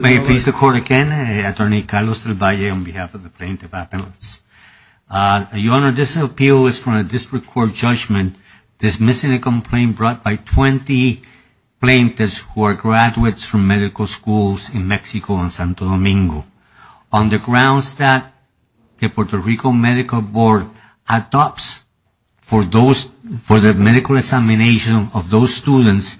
May it please the Court again, Attorney Carlos Del Valle on behalf of the plaintiff appellates. Your Honor, this appeal is from a district court judgment dismissing a complaint brought by 20 plaintiffs who are graduates from medical schools in Mexico and Santo Domingo. On the grounds that the Puerto Rico Medical Board adopts for the medical examination of those students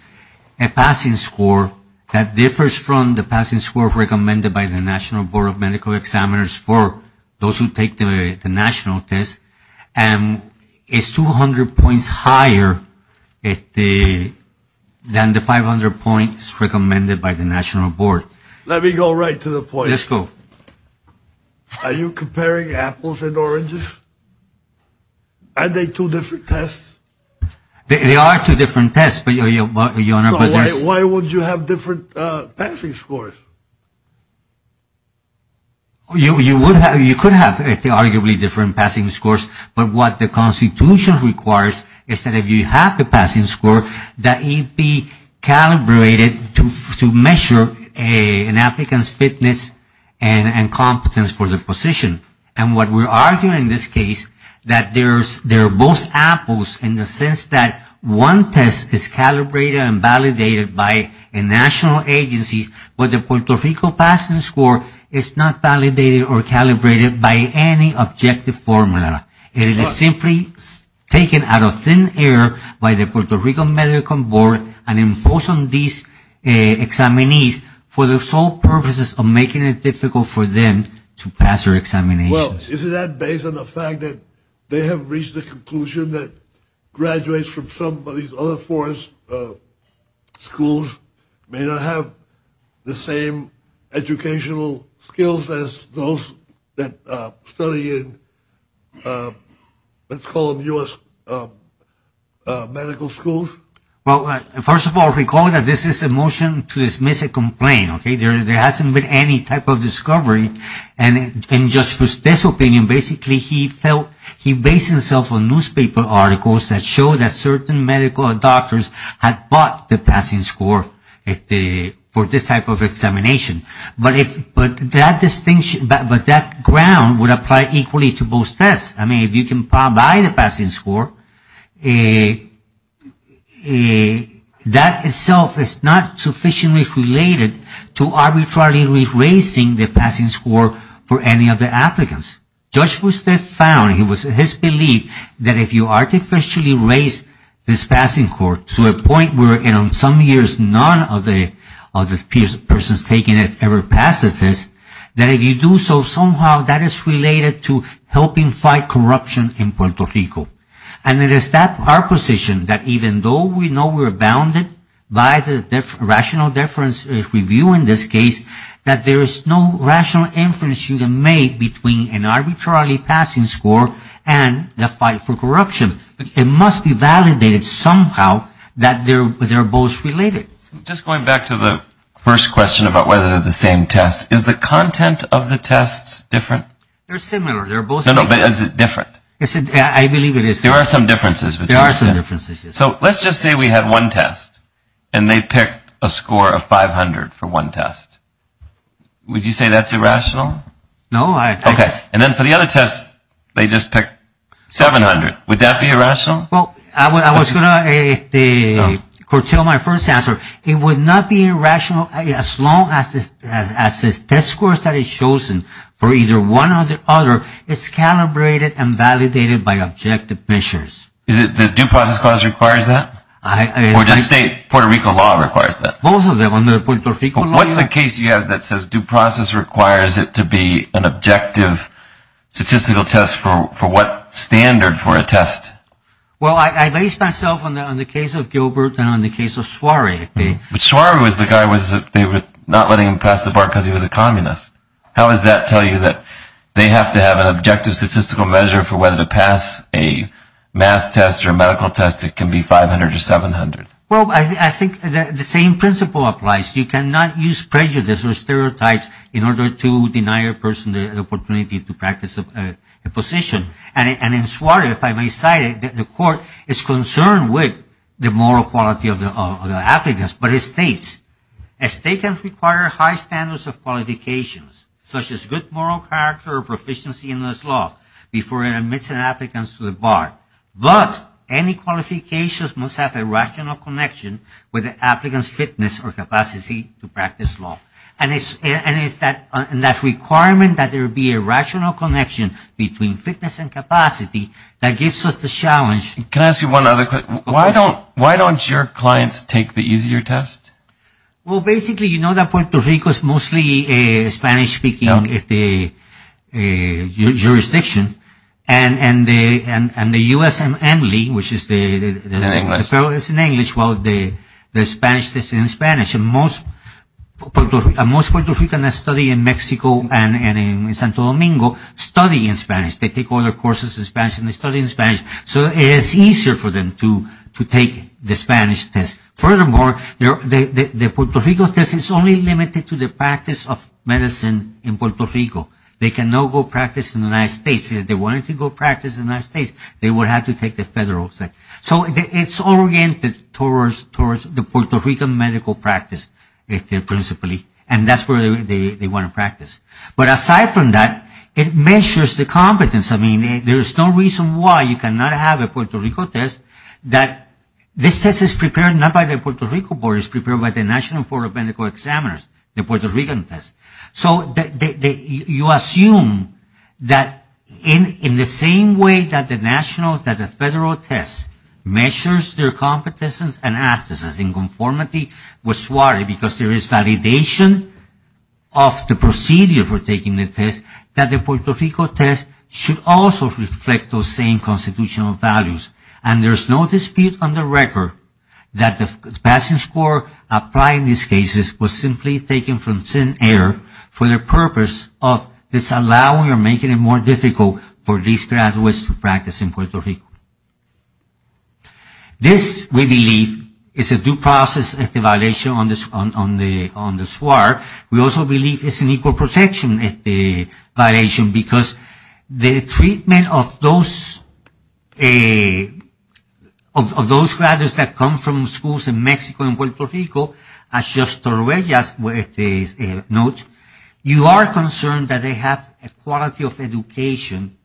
a passing score that differs from the passing score recommended by the National Board of Medical Examiners for those who take the national test and is 200 points higher than the 500 points recommended by the National Board. Let me go right to the point. Yes, go. Are you comparing apples and oranges? Are they two different tests? They are two different tests, Your Honor. Why would you have different passing scores? You could have arguably different passing scores, but what the Constitution requires is that if you have a passing score that it be calibrated to measure an applicant's fitness and competence for the position. And what we are arguing in this case is that they are both apples in the sense that one test is calibrated and validated by a national agency, but the Puerto Rico passing score is not validated or calibrated by any objective formula. It is simply taken out of thin air by the Puerto Rico Medical Board and imposed on these examinees for the sole purposes of making it difficult for them to pass their examinations. Isn't that based on the fact that they have reached the conclusion that graduates from some of these other foreign schools may not have the same educational skills as those that study in, let's call them U.S. medical schools? First of all, recall that this is a motion to dismiss a complaint. There hasn't been any type of discovery. And just for this opinion, basically he felt he based himself on newspaper articles that showed that certain medical doctors had bought the passing score for this type of examination. But that ground would apply equally to both tests. I mean, if you can buy the passing score, that itself is not sufficiently related to arbitrarily raising the passing score for any of the applicants. Judge Fustef found, it was his belief, that if you artificially raise this passing score to a point where in some years none of the persons taking it ever passed the test, that if you do so, somehow that is related to helping fight corruption in Puerto Rico. And it is our position that even though we know we're bounded by the rational difference review in this case, that there is no rational inference you can make between an arbitrarily passing score and the fight for corruption. It must be validated somehow that they're both related. Just going back to the first question about whether they're the same test, is the content of the tests different? They're similar. No, no, but is it different? I believe it is. There are some differences. There are some differences, yes. So let's just say we had one test, and they picked a score of 500 for one test. Would you say that's irrational? No. Okay. And then for the other test, they just picked 700. Would that be irrational? Well, I was going to curtail my first answer. It would not be irrational as long as the test scores that is chosen for either one or the other is calibrated and validated by objective measures. The due process clause requires that? Or does state Puerto Rico law require that? Both of them. What's the case you have that says due process requires it to be an objective statistical test for what standard for a test? Well, I base myself on the case of Gilbert and on the case of Suarez. But Suarez was the guy they were not letting pass the bar because he was a communist. How does that tell you that they have to have an objective statistical measure for whether to pass a math test or a medical test that can be 500 or 700? Well, I think the same principle applies. You cannot use prejudice or stereotypes in order to deny a person the opportunity to practice a position. And in Suarez, if I may cite it, the court is concerned with the moral quality of the applicants. But it states, a state can require high standards of qualifications, such as good moral character or proficiency in this law, before it admits an applicant to the bar. But any qualifications must have a rational connection with the applicant's fitness or capacity to practice law. And it's that requirement that there be a rational connection between fitness and capacity that gives us the challenge. Can I ask you one other question? Why don't your clients take the easier test? Well, basically, you know that Puerto Rico is mostly Spanish-speaking jurisdiction. And the USMLE, which is the… It's in English. It's in English. Well, the Spanish test is in Spanish. And most Puerto Ricans that study in Mexico and in Santo Domingo study in Spanish. They take all their courses in Spanish, and they study in Spanish. So it is easier for them to take the Spanish test. Furthermore, the Puerto Rico test is only limited to the practice of medicine in Puerto Rico. They cannot go practice in the United States. If they wanted to go practice in the United States, they would have to take the federal test. So it's oriented towards the Puerto Rican medical practice, principally. And that's where they want to practice. But aside from that, it measures the competence. I mean, there's no reason why you cannot have a Puerto Rico test. This test is prepared not by the Puerto Rico board. It's prepared by the National Board of Medical Examiners, the Puerto Rican test. So you assume that in the same way that the national, that the federal test measures their competence and aptness and conformity with SWARE, because there is validation of the procedure for taking the test, that the Puerto Rico test should also reflect those same constitutional values. And there's no dispute on the record that the passing score applying these cases was simply taken from thin air for the purpose of disallowing or making it more difficult for these graduates to practice in Puerto Rico. This, we believe, is a due process violation on the SWARE. We also believe it's an equal protection violation, because the treatment of those, of those graduates that come from schools in Mexico and Puerto Rico, as Josh Torrejas notes, you are concerned that they have a quality of education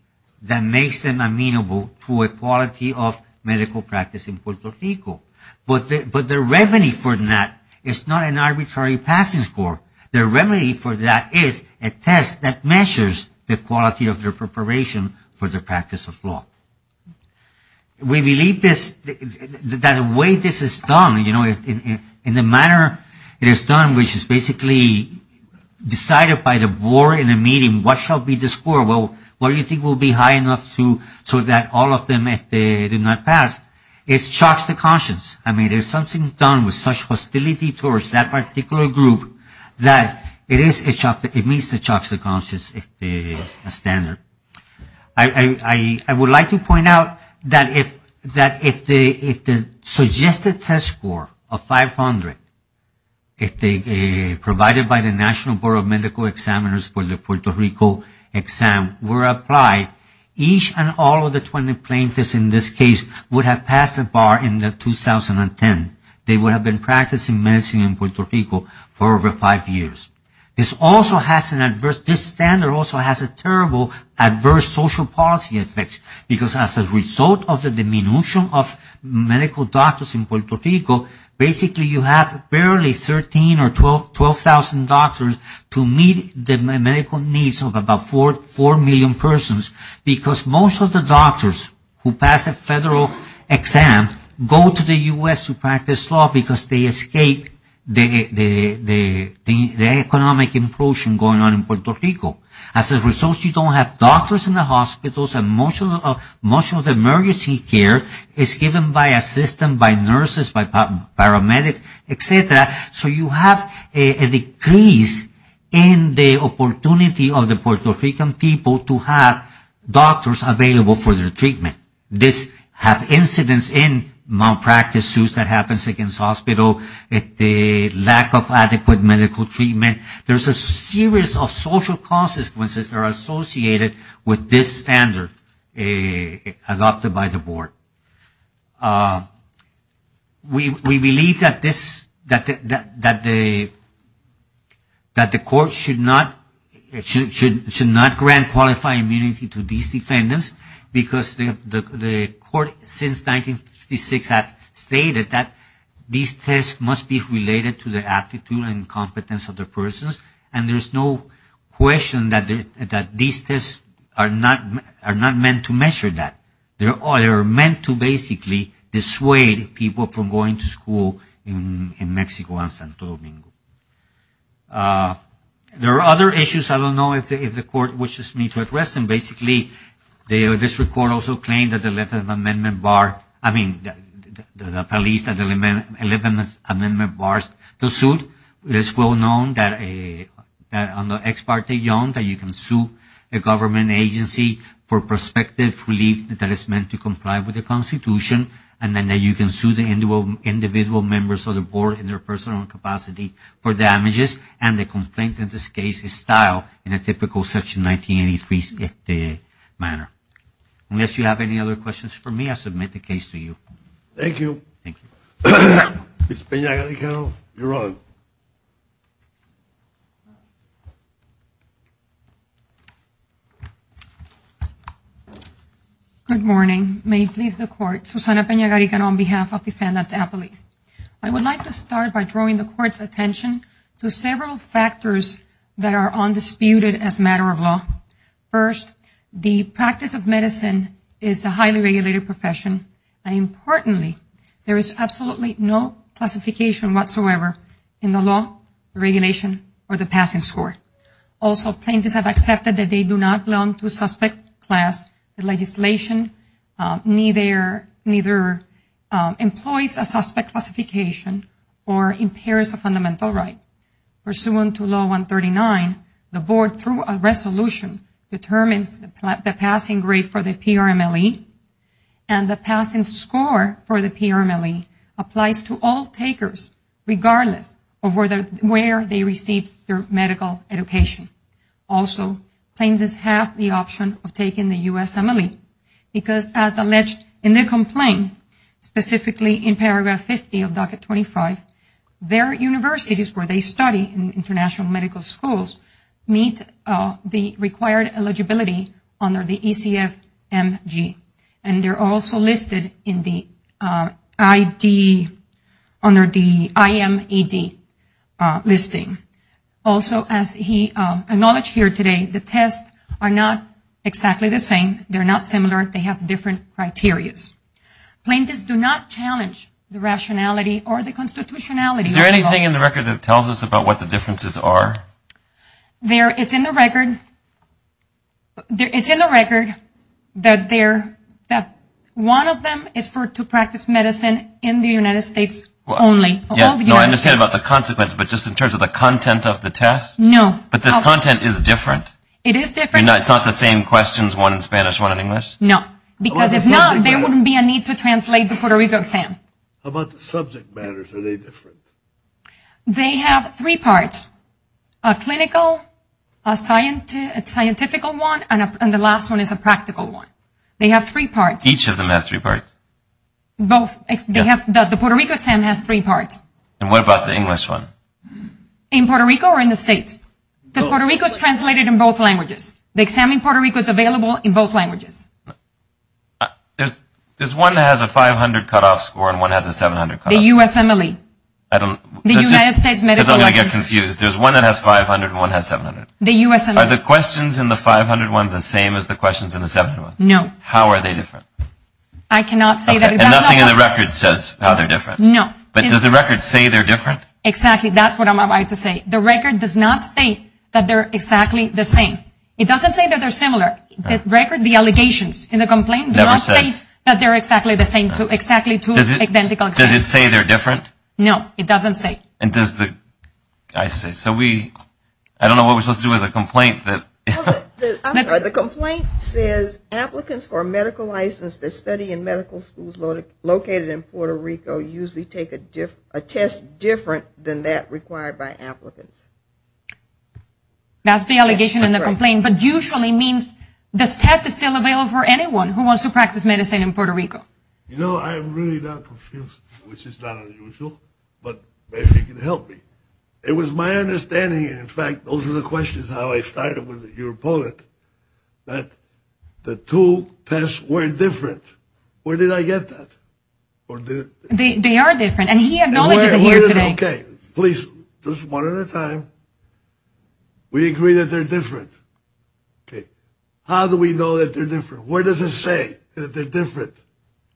that makes them amenable to a quality of medical practice in Puerto Rico. But the remedy for that is not an arbitrary passing score. The remedy for that is a test that measures the quality of their preparation for their practice of law. We believe this, that the way this is done, you know, in the manner it is done, which is basically decided by the board in a meeting, what shall be the score, what do you think will be high enough so that all of them, if they do not pass, it shocks the conscience. I mean, there's something done with such hostility towards that particular group that it is a shock, it means it shocks the conscience, a standard. I would like to point out that if the suggested test score of 500, if they provided by the National Board of Medical Examiners for the Puerto Rico exam were applied, each and all of the 20 plaintiffs in this case would have passed the bar in 2010. They would have been practicing medicine in Puerto Rico for over five years. This also has an adverse, this standard also has a terrible adverse social policy effect, because as a result of the diminution of medical doctors in Puerto Rico, basically you have barely 13 or 12,000 doctors to meet the medical needs of about 4 million persons, because most of the doctors who pass a federal exam go to the U.S. to practice law, because they escape the economic implosion going on in Puerto Rico. As a result, you don't have doctors in the hospitals and most of the emergency care is given by a system, by nurses, by paramedics, et cetera. So you have a decrease in the opportunity of the Puerto Rican people to have doctors available for their treatment. This has incidents in malpractice suits that happens against hospitals, the lack of adequate medical treatment. There's a series of social consequences that are associated with this standard adopted by the board. We believe that the court should not grant qualifying immunity to these defendants, because the court since 1956 has stated that these tests must be related to the aptitude and competence of the persons, and there's no question that these tests are not meant to measure that. They are meant to basically dissuade people from going to school in Mexico and Santo Domingo. There are other issues, I don't know if the court wishes me to address them. Basically, the district court also claimed that the 11th Amendment Bar, I mean, the police, that the 11th Amendment Bars, the suit is well known that under Ex Parte Young that you can sue a government agency for prospective relief that is meant to comply with the Constitution and then that you can sue the individual members of the board in their personal capacity for damages, and the complaint in this case is style in a typical Section 1983 manner. Unless you have any other questions for me, I submit the case to you. Thank you. Good morning. May it please the court, Susana Pena-Garican on behalf of Defendant Appellees. I would like to start by drawing the court's attention to several factors that are undisputed as a matter of law. First, the practice of medicine is a highly regulated profession, and importantly, there is absolutely no classification whatsoever in the law, regulation, or the passing score. Also, plaintiffs have accepted that they do not belong to a suspect class. The legislation neither employs a suspect classification or impairs a fundamental right. Pursuant to Law 139, the board, through a resolution, determines the passing grade for the PRMLE, and the passing score for the PRMLE applies to all takers, regardless of where they receive their medical education. Also, plaintiffs have the option of taking the USMLE, because as alleged in the complaint, specifically in paragraph 50 of Docket 25, their universities where they study in international medical schools meet the required eligibility under the ECF-MG, and they are also listed under the IMED listing. Also, as he acknowledged here today, the tests are not exactly the same, they are not similar, they have different criteria. Plaintiffs do not challenge the rationality or the constitutionality of the law. Is there anything in the record that tells us about what the differences are? It's in the record that one of them is to practice medicine in the United States only. No, I understand about the consequence, but just in terms of the content of the test? No. But the content is different? It is different. It's not the same questions, one in Spanish, one in English? No, because if not, there wouldn't be a need to translate the Puerto Rico exam. How about the subject matters, are they different? They have three parts, a clinical, a scientific one, and the last one is a practical one. They have three parts. Each of them has three parts? The Puerto Rico exam has three parts. And what about the English one? In Puerto Rico or in the States? Because Puerto Rico is translated in both languages. The exam in Puerto Rico is available in both languages. There's one that has a 500 cutoff score and one that has a 700 cutoff score. The USMLE. I'm going to get confused, there's one that has 500 and one that has 700. Are the questions in the 500 one the same as the questions in the 700 one? No. And nothing in the record says how they're different? No. But does the record say they're different? Exactly, that's what I'm about to say. The record does not state that they're exactly the same. It doesn't say that they're similar. The allegations in the complaint do not state that they're exactly the same. Does it say they're different? No, it doesn't say. I don't know what we're supposed to do with a complaint. The complaint says applicants for a medical license to study in medical schools located in Puerto Rico usually take a test different than that required by applicants. That's the allegation in the complaint, but usually means this test is still available for anyone who wants to practice medicine in Puerto Rico. You know, I'm really not confused, which is not unusual, but maybe you can help me. It was my understanding, in fact, those are the questions, how I started with your opponent, that the two tests were different. Where did I get that? They are different, and he acknowledges it here today. Okay, please, just one at a time. We agree that they're different. How do we know that they're different? Where does it say that they're different?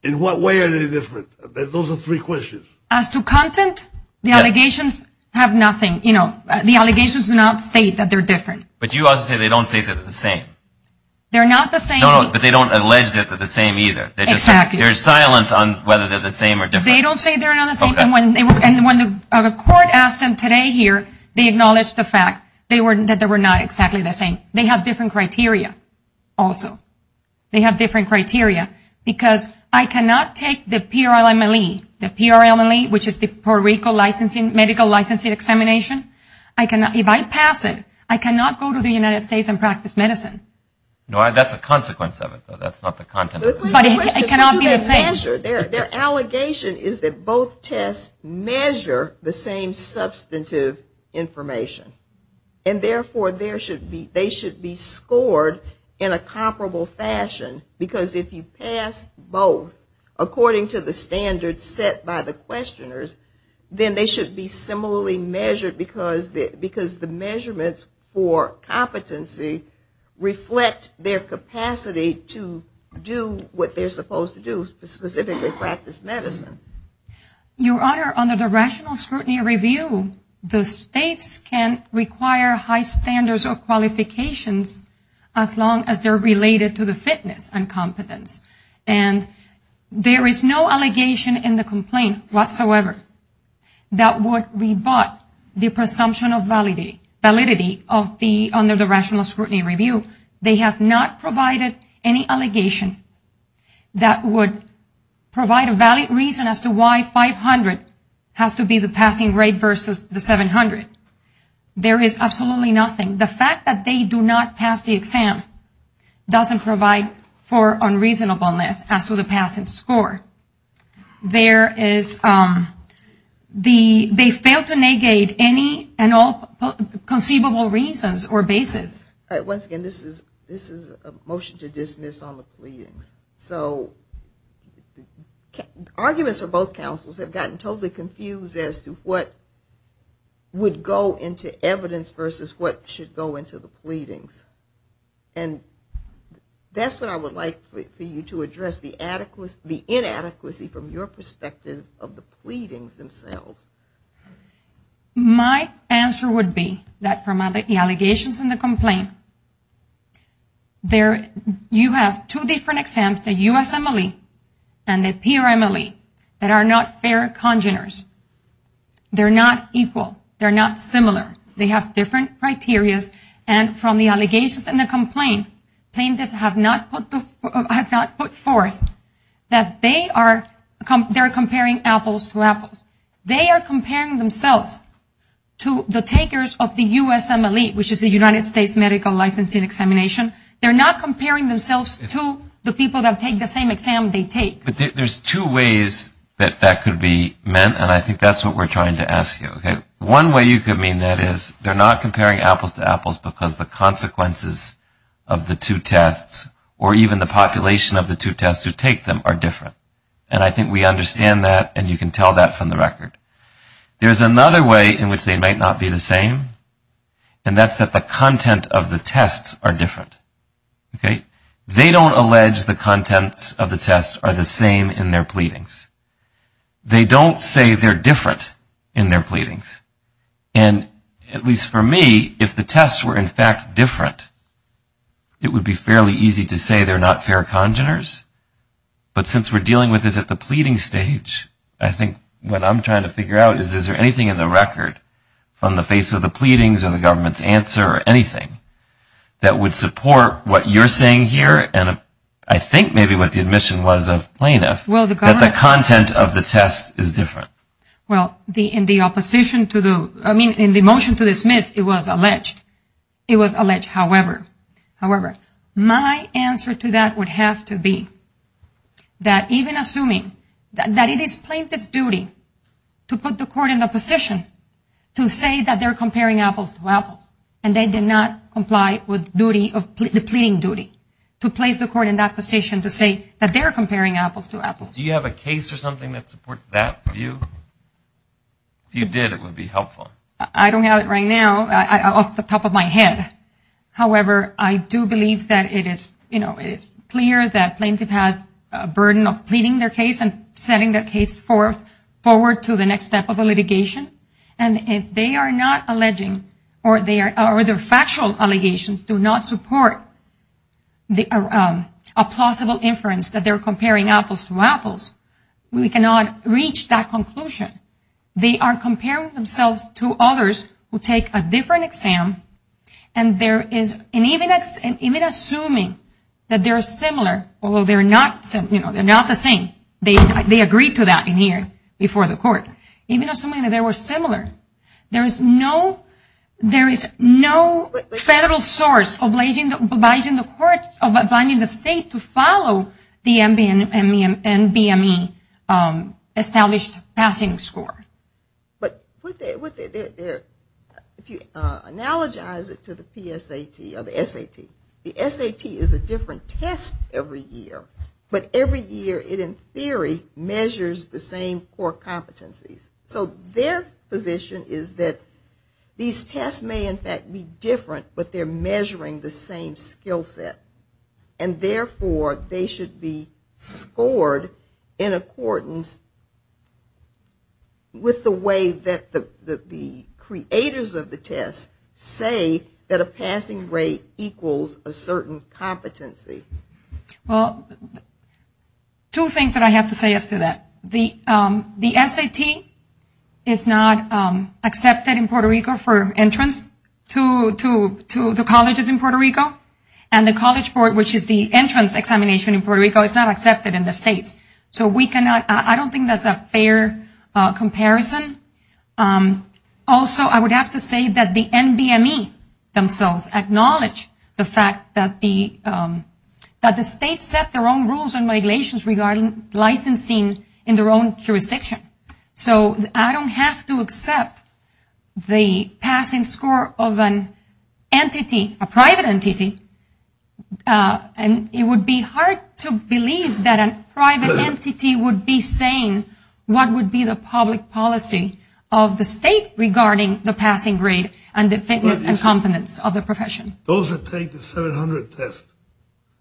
In what way are they different? Those are three questions. As to content, the allegations have nothing. You know, the allegations do not state that they're different. But you also say they don't state that they're the same. They're not the same. No, but they don't allege that they're the same either. Exactly. They're silent on whether they're the same or different. And when the court asked them today here, they acknowledged the fact that they were not exactly the same. They have different criteria also. They have different criteria, because I cannot take the PRLMLE, which is the Puerto Rico Medical Licensing Examination, if I pass it, I cannot go to the United States and practice medicine. No, that's a consequence of it. That's not the content. Their allegation is that both tests measure the same substantive information. And therefore, they should be scored in a comparable fashion, because if you pass both according to the standards set by the questioners, then they should be similarly measured, because the measurements for competency reflect their capacity to do what they're supposed to do, specifically practice medicine. Your Honor, under the Rational Scrutiny Review, the states can require high standards or qualifications as long as they're related to the fitness and competence. And there is no allegation in the complaint whatsoever that would rebut the presumption of validity under the Rational Scrutiny Review. They have not provided any allegation that would provide a valid reason as to why 500 has to be the passing rate versus the 700. There is absolutely nothing. The fact that they do not pass the exam doesn't provide for unreasonableness as to the passing score. There is... They fail to negate any and all conceivable reasons or basis. Once again, this is a motion to dismiss on the pleadings. Arguments from both counsels have gotten totally confused as to what would go into evidence versus what should go into the pleadings. And that's what I would like for you to address, the inadequacy from your perspective of the pleadings themselves. My answer would be that from the allegations in the complaint, you have two different exams, the USMLE and the PRMLE that are not fair congeners. They're not equal. They're not similar. They have different criterias. And from the allegations in the complaint, plaintiffs have not put forth that they are comparing apples to apples. They are comparing themselves to the takers of the USMLE, which is the United States Medical Licensing Examination. They're not comparing themselves to the people that take the same exam they take. There's two ways that that could be meant and I think that's what we're trying to ask you. One way you could mean that is they're not comparing apples to apples because the consequences of the two tests or even the population of the two tests who take them are different. And I think we understand that and you can tell that from the record. There's another way in which they might not be the same and that's that the content of the tests are different. They don't allege the contents of the tests are the same in their pleadings. They don't say they're different in their pleadings. And at least for me, if the tests were in fact different, it would be fairly easy to say they're not fair congeners. But since we're dealing with this at the pleading stage, I think what I'm trying to figure out is is there anything in the record from the face of the pleadings or the government's answer or anything that would support what you're saying here and I think maybe what the admission was of plaintiffs that the content of the test is different. Well, in the opposition to the, I mean in the motion to dismiss, it was alleged. It was alleged. However, my answer to that would have to be that even assuming that it is plaintiff's duty to put the court in the position to say that they're comparing apples to apples and they did not comply with the pleading duty to place the court in that position to say that they're comparing apples to apples. Do you have a case or something that supports that view? If you did, it would be helpful. I don't have it right now off the top of my head. However, I do believe that it is clear that plaintiff has a burden of pleading their case and sending their case forward to the next step of the litigation and if they are not alleging or their factual allegations do not support a plausible inference that they're comparing apples to apples, we cannot reach that conclusion. They are comparing themselves to others who take a different exam and even assuming that they're similar, although they're not the same, they agreed to that in here before the court, even assuming that they were similar, there is no federal source obliging the court, obliging the state to follow the NBME established passing score. If you analogize it to the PSAT or the SAT, the SAT is a different test every year, but every year it in theory measures the same core competencies. So their position is that these tests may in fact be different but they're measuring the same skill set and therefore they should be scored in accordance with the way that the creators of the test say that a passing rate equals a certain competency. Two things that I have to say as to that. The SAT is not accepted in Puerto Rico for entrance to the colleges in Puerto Rico and the college board, which is the entrance examination in Puerto Rico, is not accepted in the state. I don't think that's a fair comparison. Also, I would have to say that the NBME themselves acknowledge the fact that the state set their own rules and regulations regarding licensing in their own jurisdiction. So I don't have to accept the passing score of an entity, a private entity, and it would be hard to believe that a public policy of the state regarding the passing rate and the fitness and competence of the profession. Those who take the 700 test,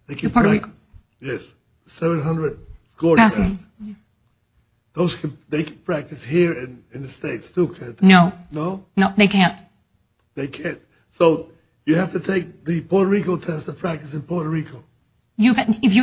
the 700 core tests, they can practice here in the states too, can't they? No, they can't. They can't. So you have to take the Puerto Rico test to practice in Puerto Rico. If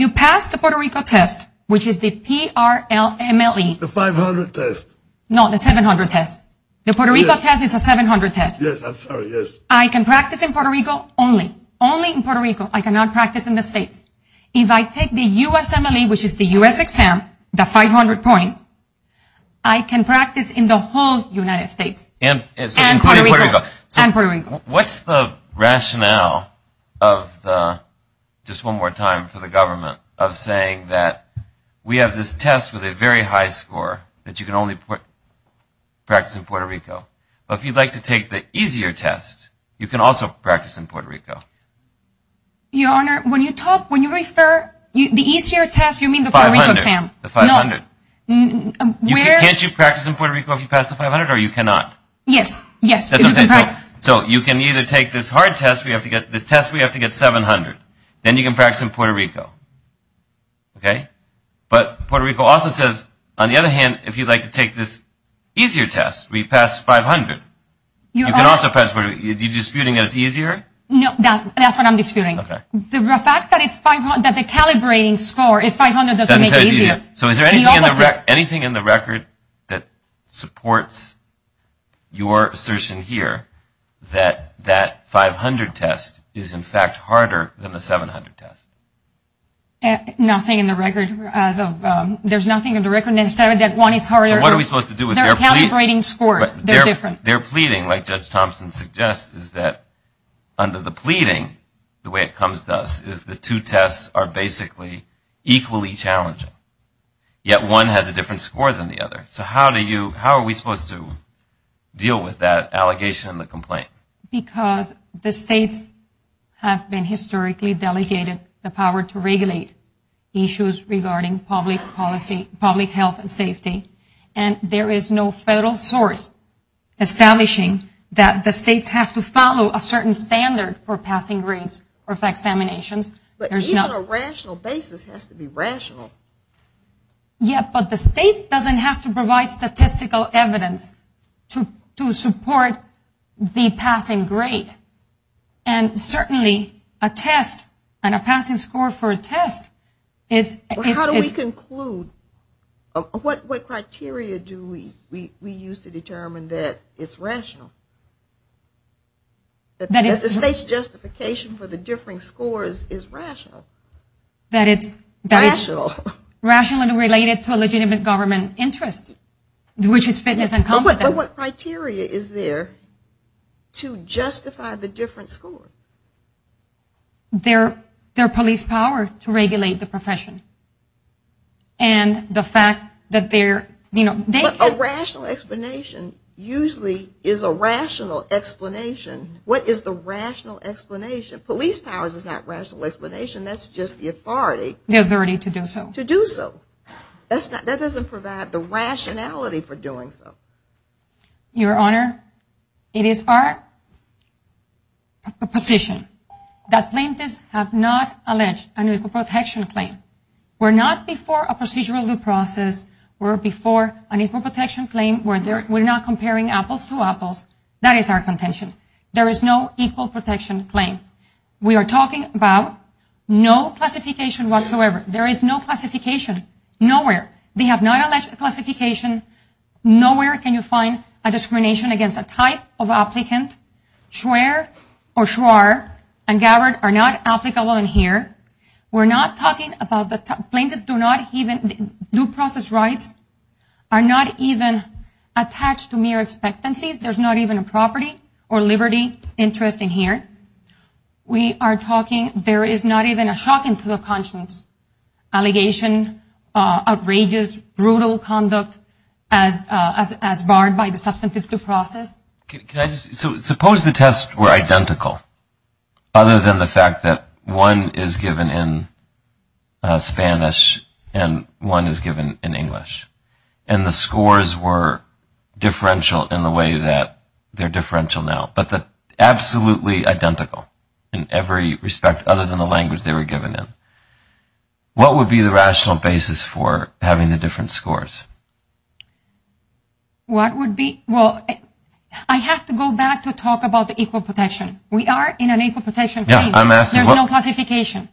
you pass the Puerto Rico test, which is the P-R-L-M-L-E. The 500 test. No, the 700 test. The Puerto Rico test is a 700 test. Yes, I'm sorry, yes. I can practice in Puerto Rico only. Only in Puerto Rico. I cannot practice in the states. If I take the USMLE, which is the US exam, the 500 point, I can practice in the whole United States. Including Puerto Rico. Including Puerto Rico. What's the rationale of the, just one more time, for the government, of saying that we have this test with a very high score, that you can only practice in Puerto Rico. But if you'd like to take the easier test, you can also practice in Puerto Rico. Your Honor, when you talk, when you refer, the easier test, you mean the Puerto Rico exam. The 500. Can't you practice in Puerto Rico if you pass the 500, or you cannot? Yes. So you can either take this hard test, the test we have to get the 700, then you can practice in Puerto Rico. But Puerto Rico also says, on the other hand, if you'd like to take this easier test, where you pass 500, you can also practice in Puerto Rico. Are you disputing that it's easier? No, that's what I'm disputing. The fact that the calibrating score is 500 doesn't make it easier. So is there anything in the record that supports your assertion here that that is much harder than the 700 test? Nothing in the record. There's nothing in the record that says that one is harder. So what are we supposed to do? They're calibrating scores. They're different. Their pleading, like Judge Thompson suggests, is that under the pleading, the way it comes to us, is the two tests are basically equally challenging. Yet one has a different score than the other. So how are we supposed to deal with that allegation and the complaint? Because the states have been historically delegated the power to regulate issues regarding public policy, public health and safety, and there is no federal source establishing that the states have to follow a certain standard for passing grades or for examinations. But even a rational basis has to be rational. Yeah, but the state doesn't have to provide statistical evidence to support the passing grade. And certainly a test and a passing score for a test is... Well, how do we conclude? What criteria do we use to determine that it's rational? That the state's justification for the differing scores is rational? Rational and related to a legitimate government interest, which is fitness and confidence. But what criteria is there to justify the different scores? Their police power to regulate the profession. And the fact that they're... But a rational explanation usually is a rational explanation. What is the rational explanation? Police power is not rational explanation. That's just the authority. The authority to do so. That doesn't provide the rationality for doing so. Your Honor, it is our position that plaintiffs have not alleged an equal protection claim. We're not before a procedural due process. We're before an equal protection claim where we're not comparing apples to apples. That is our contention. There is no equal protection claim. We are talking about no classification whatsoever. There is no classification. Nowhere. They have not alleged a classification. Nowhere can you find a discrimination against a type of applicant. Schwer or Schwar and Gabbard are not applicable in here. We're not talking about... Plaintiffs do not even... Due process rights are not even attached to mere expectancies. There's not even a property or liberty interest in here. We are talking... There is not even a shock into their conscience. Allegation, outrageous, brutal conduct as barred by the substantive due process. Can I just... So suppose the tests were identical other than the fact that one is given in Spanish and one is given in English. And the scores were differential in the way that they're differential now. But absolutely identical in every respect other than the language they were given in. What would be the rational basis for having the different scores? What would be... Well, I have to go back to talk about the equal protection. We are in an equal protection claim. There's no classification.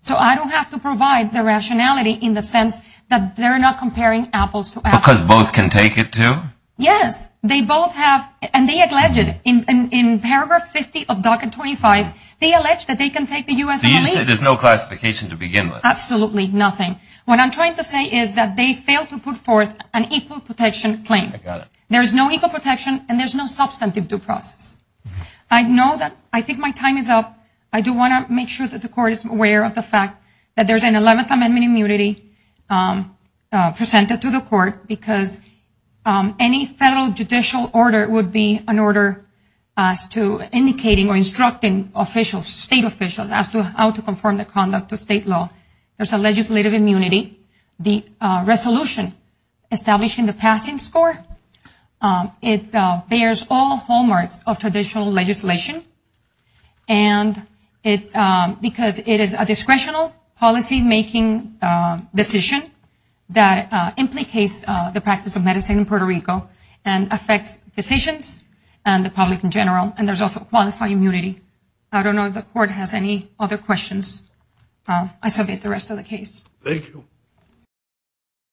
So I don't have to provide the rationality in the sense that they're not comparing apples to apples. Because both can take it to? Yes. They both have... And they alleged in paragraph 50 of Docket 25, they alleged that they can take the U.S. and leave it. So you're saying there's no classification to begin with? Absolutely nothing. What I'm trying to say is that they failed to put forth an equal protection claim. I got it. There's no equal protection and there's no substantive due process. I know that I think my time is up. I do want to make sure that the Court is aware of the fact that there's an 11th Amendment immunity presented to the Court because any federal judicial order would be an order as to indicating or instructing officials, state officials, as to how to conform the conduct of state law. There's a legislative immunity. The resolution established in the passing score, it bears all hallmarks of traditional legislation. And it's because it is a discretional policy making decision that implicates the practice of medicine in Puerto Rico and affects physicians and the public in general. And there's also qualified immunity. I don't know if the Court has any other questions. I submit the rest of the case. Thank you.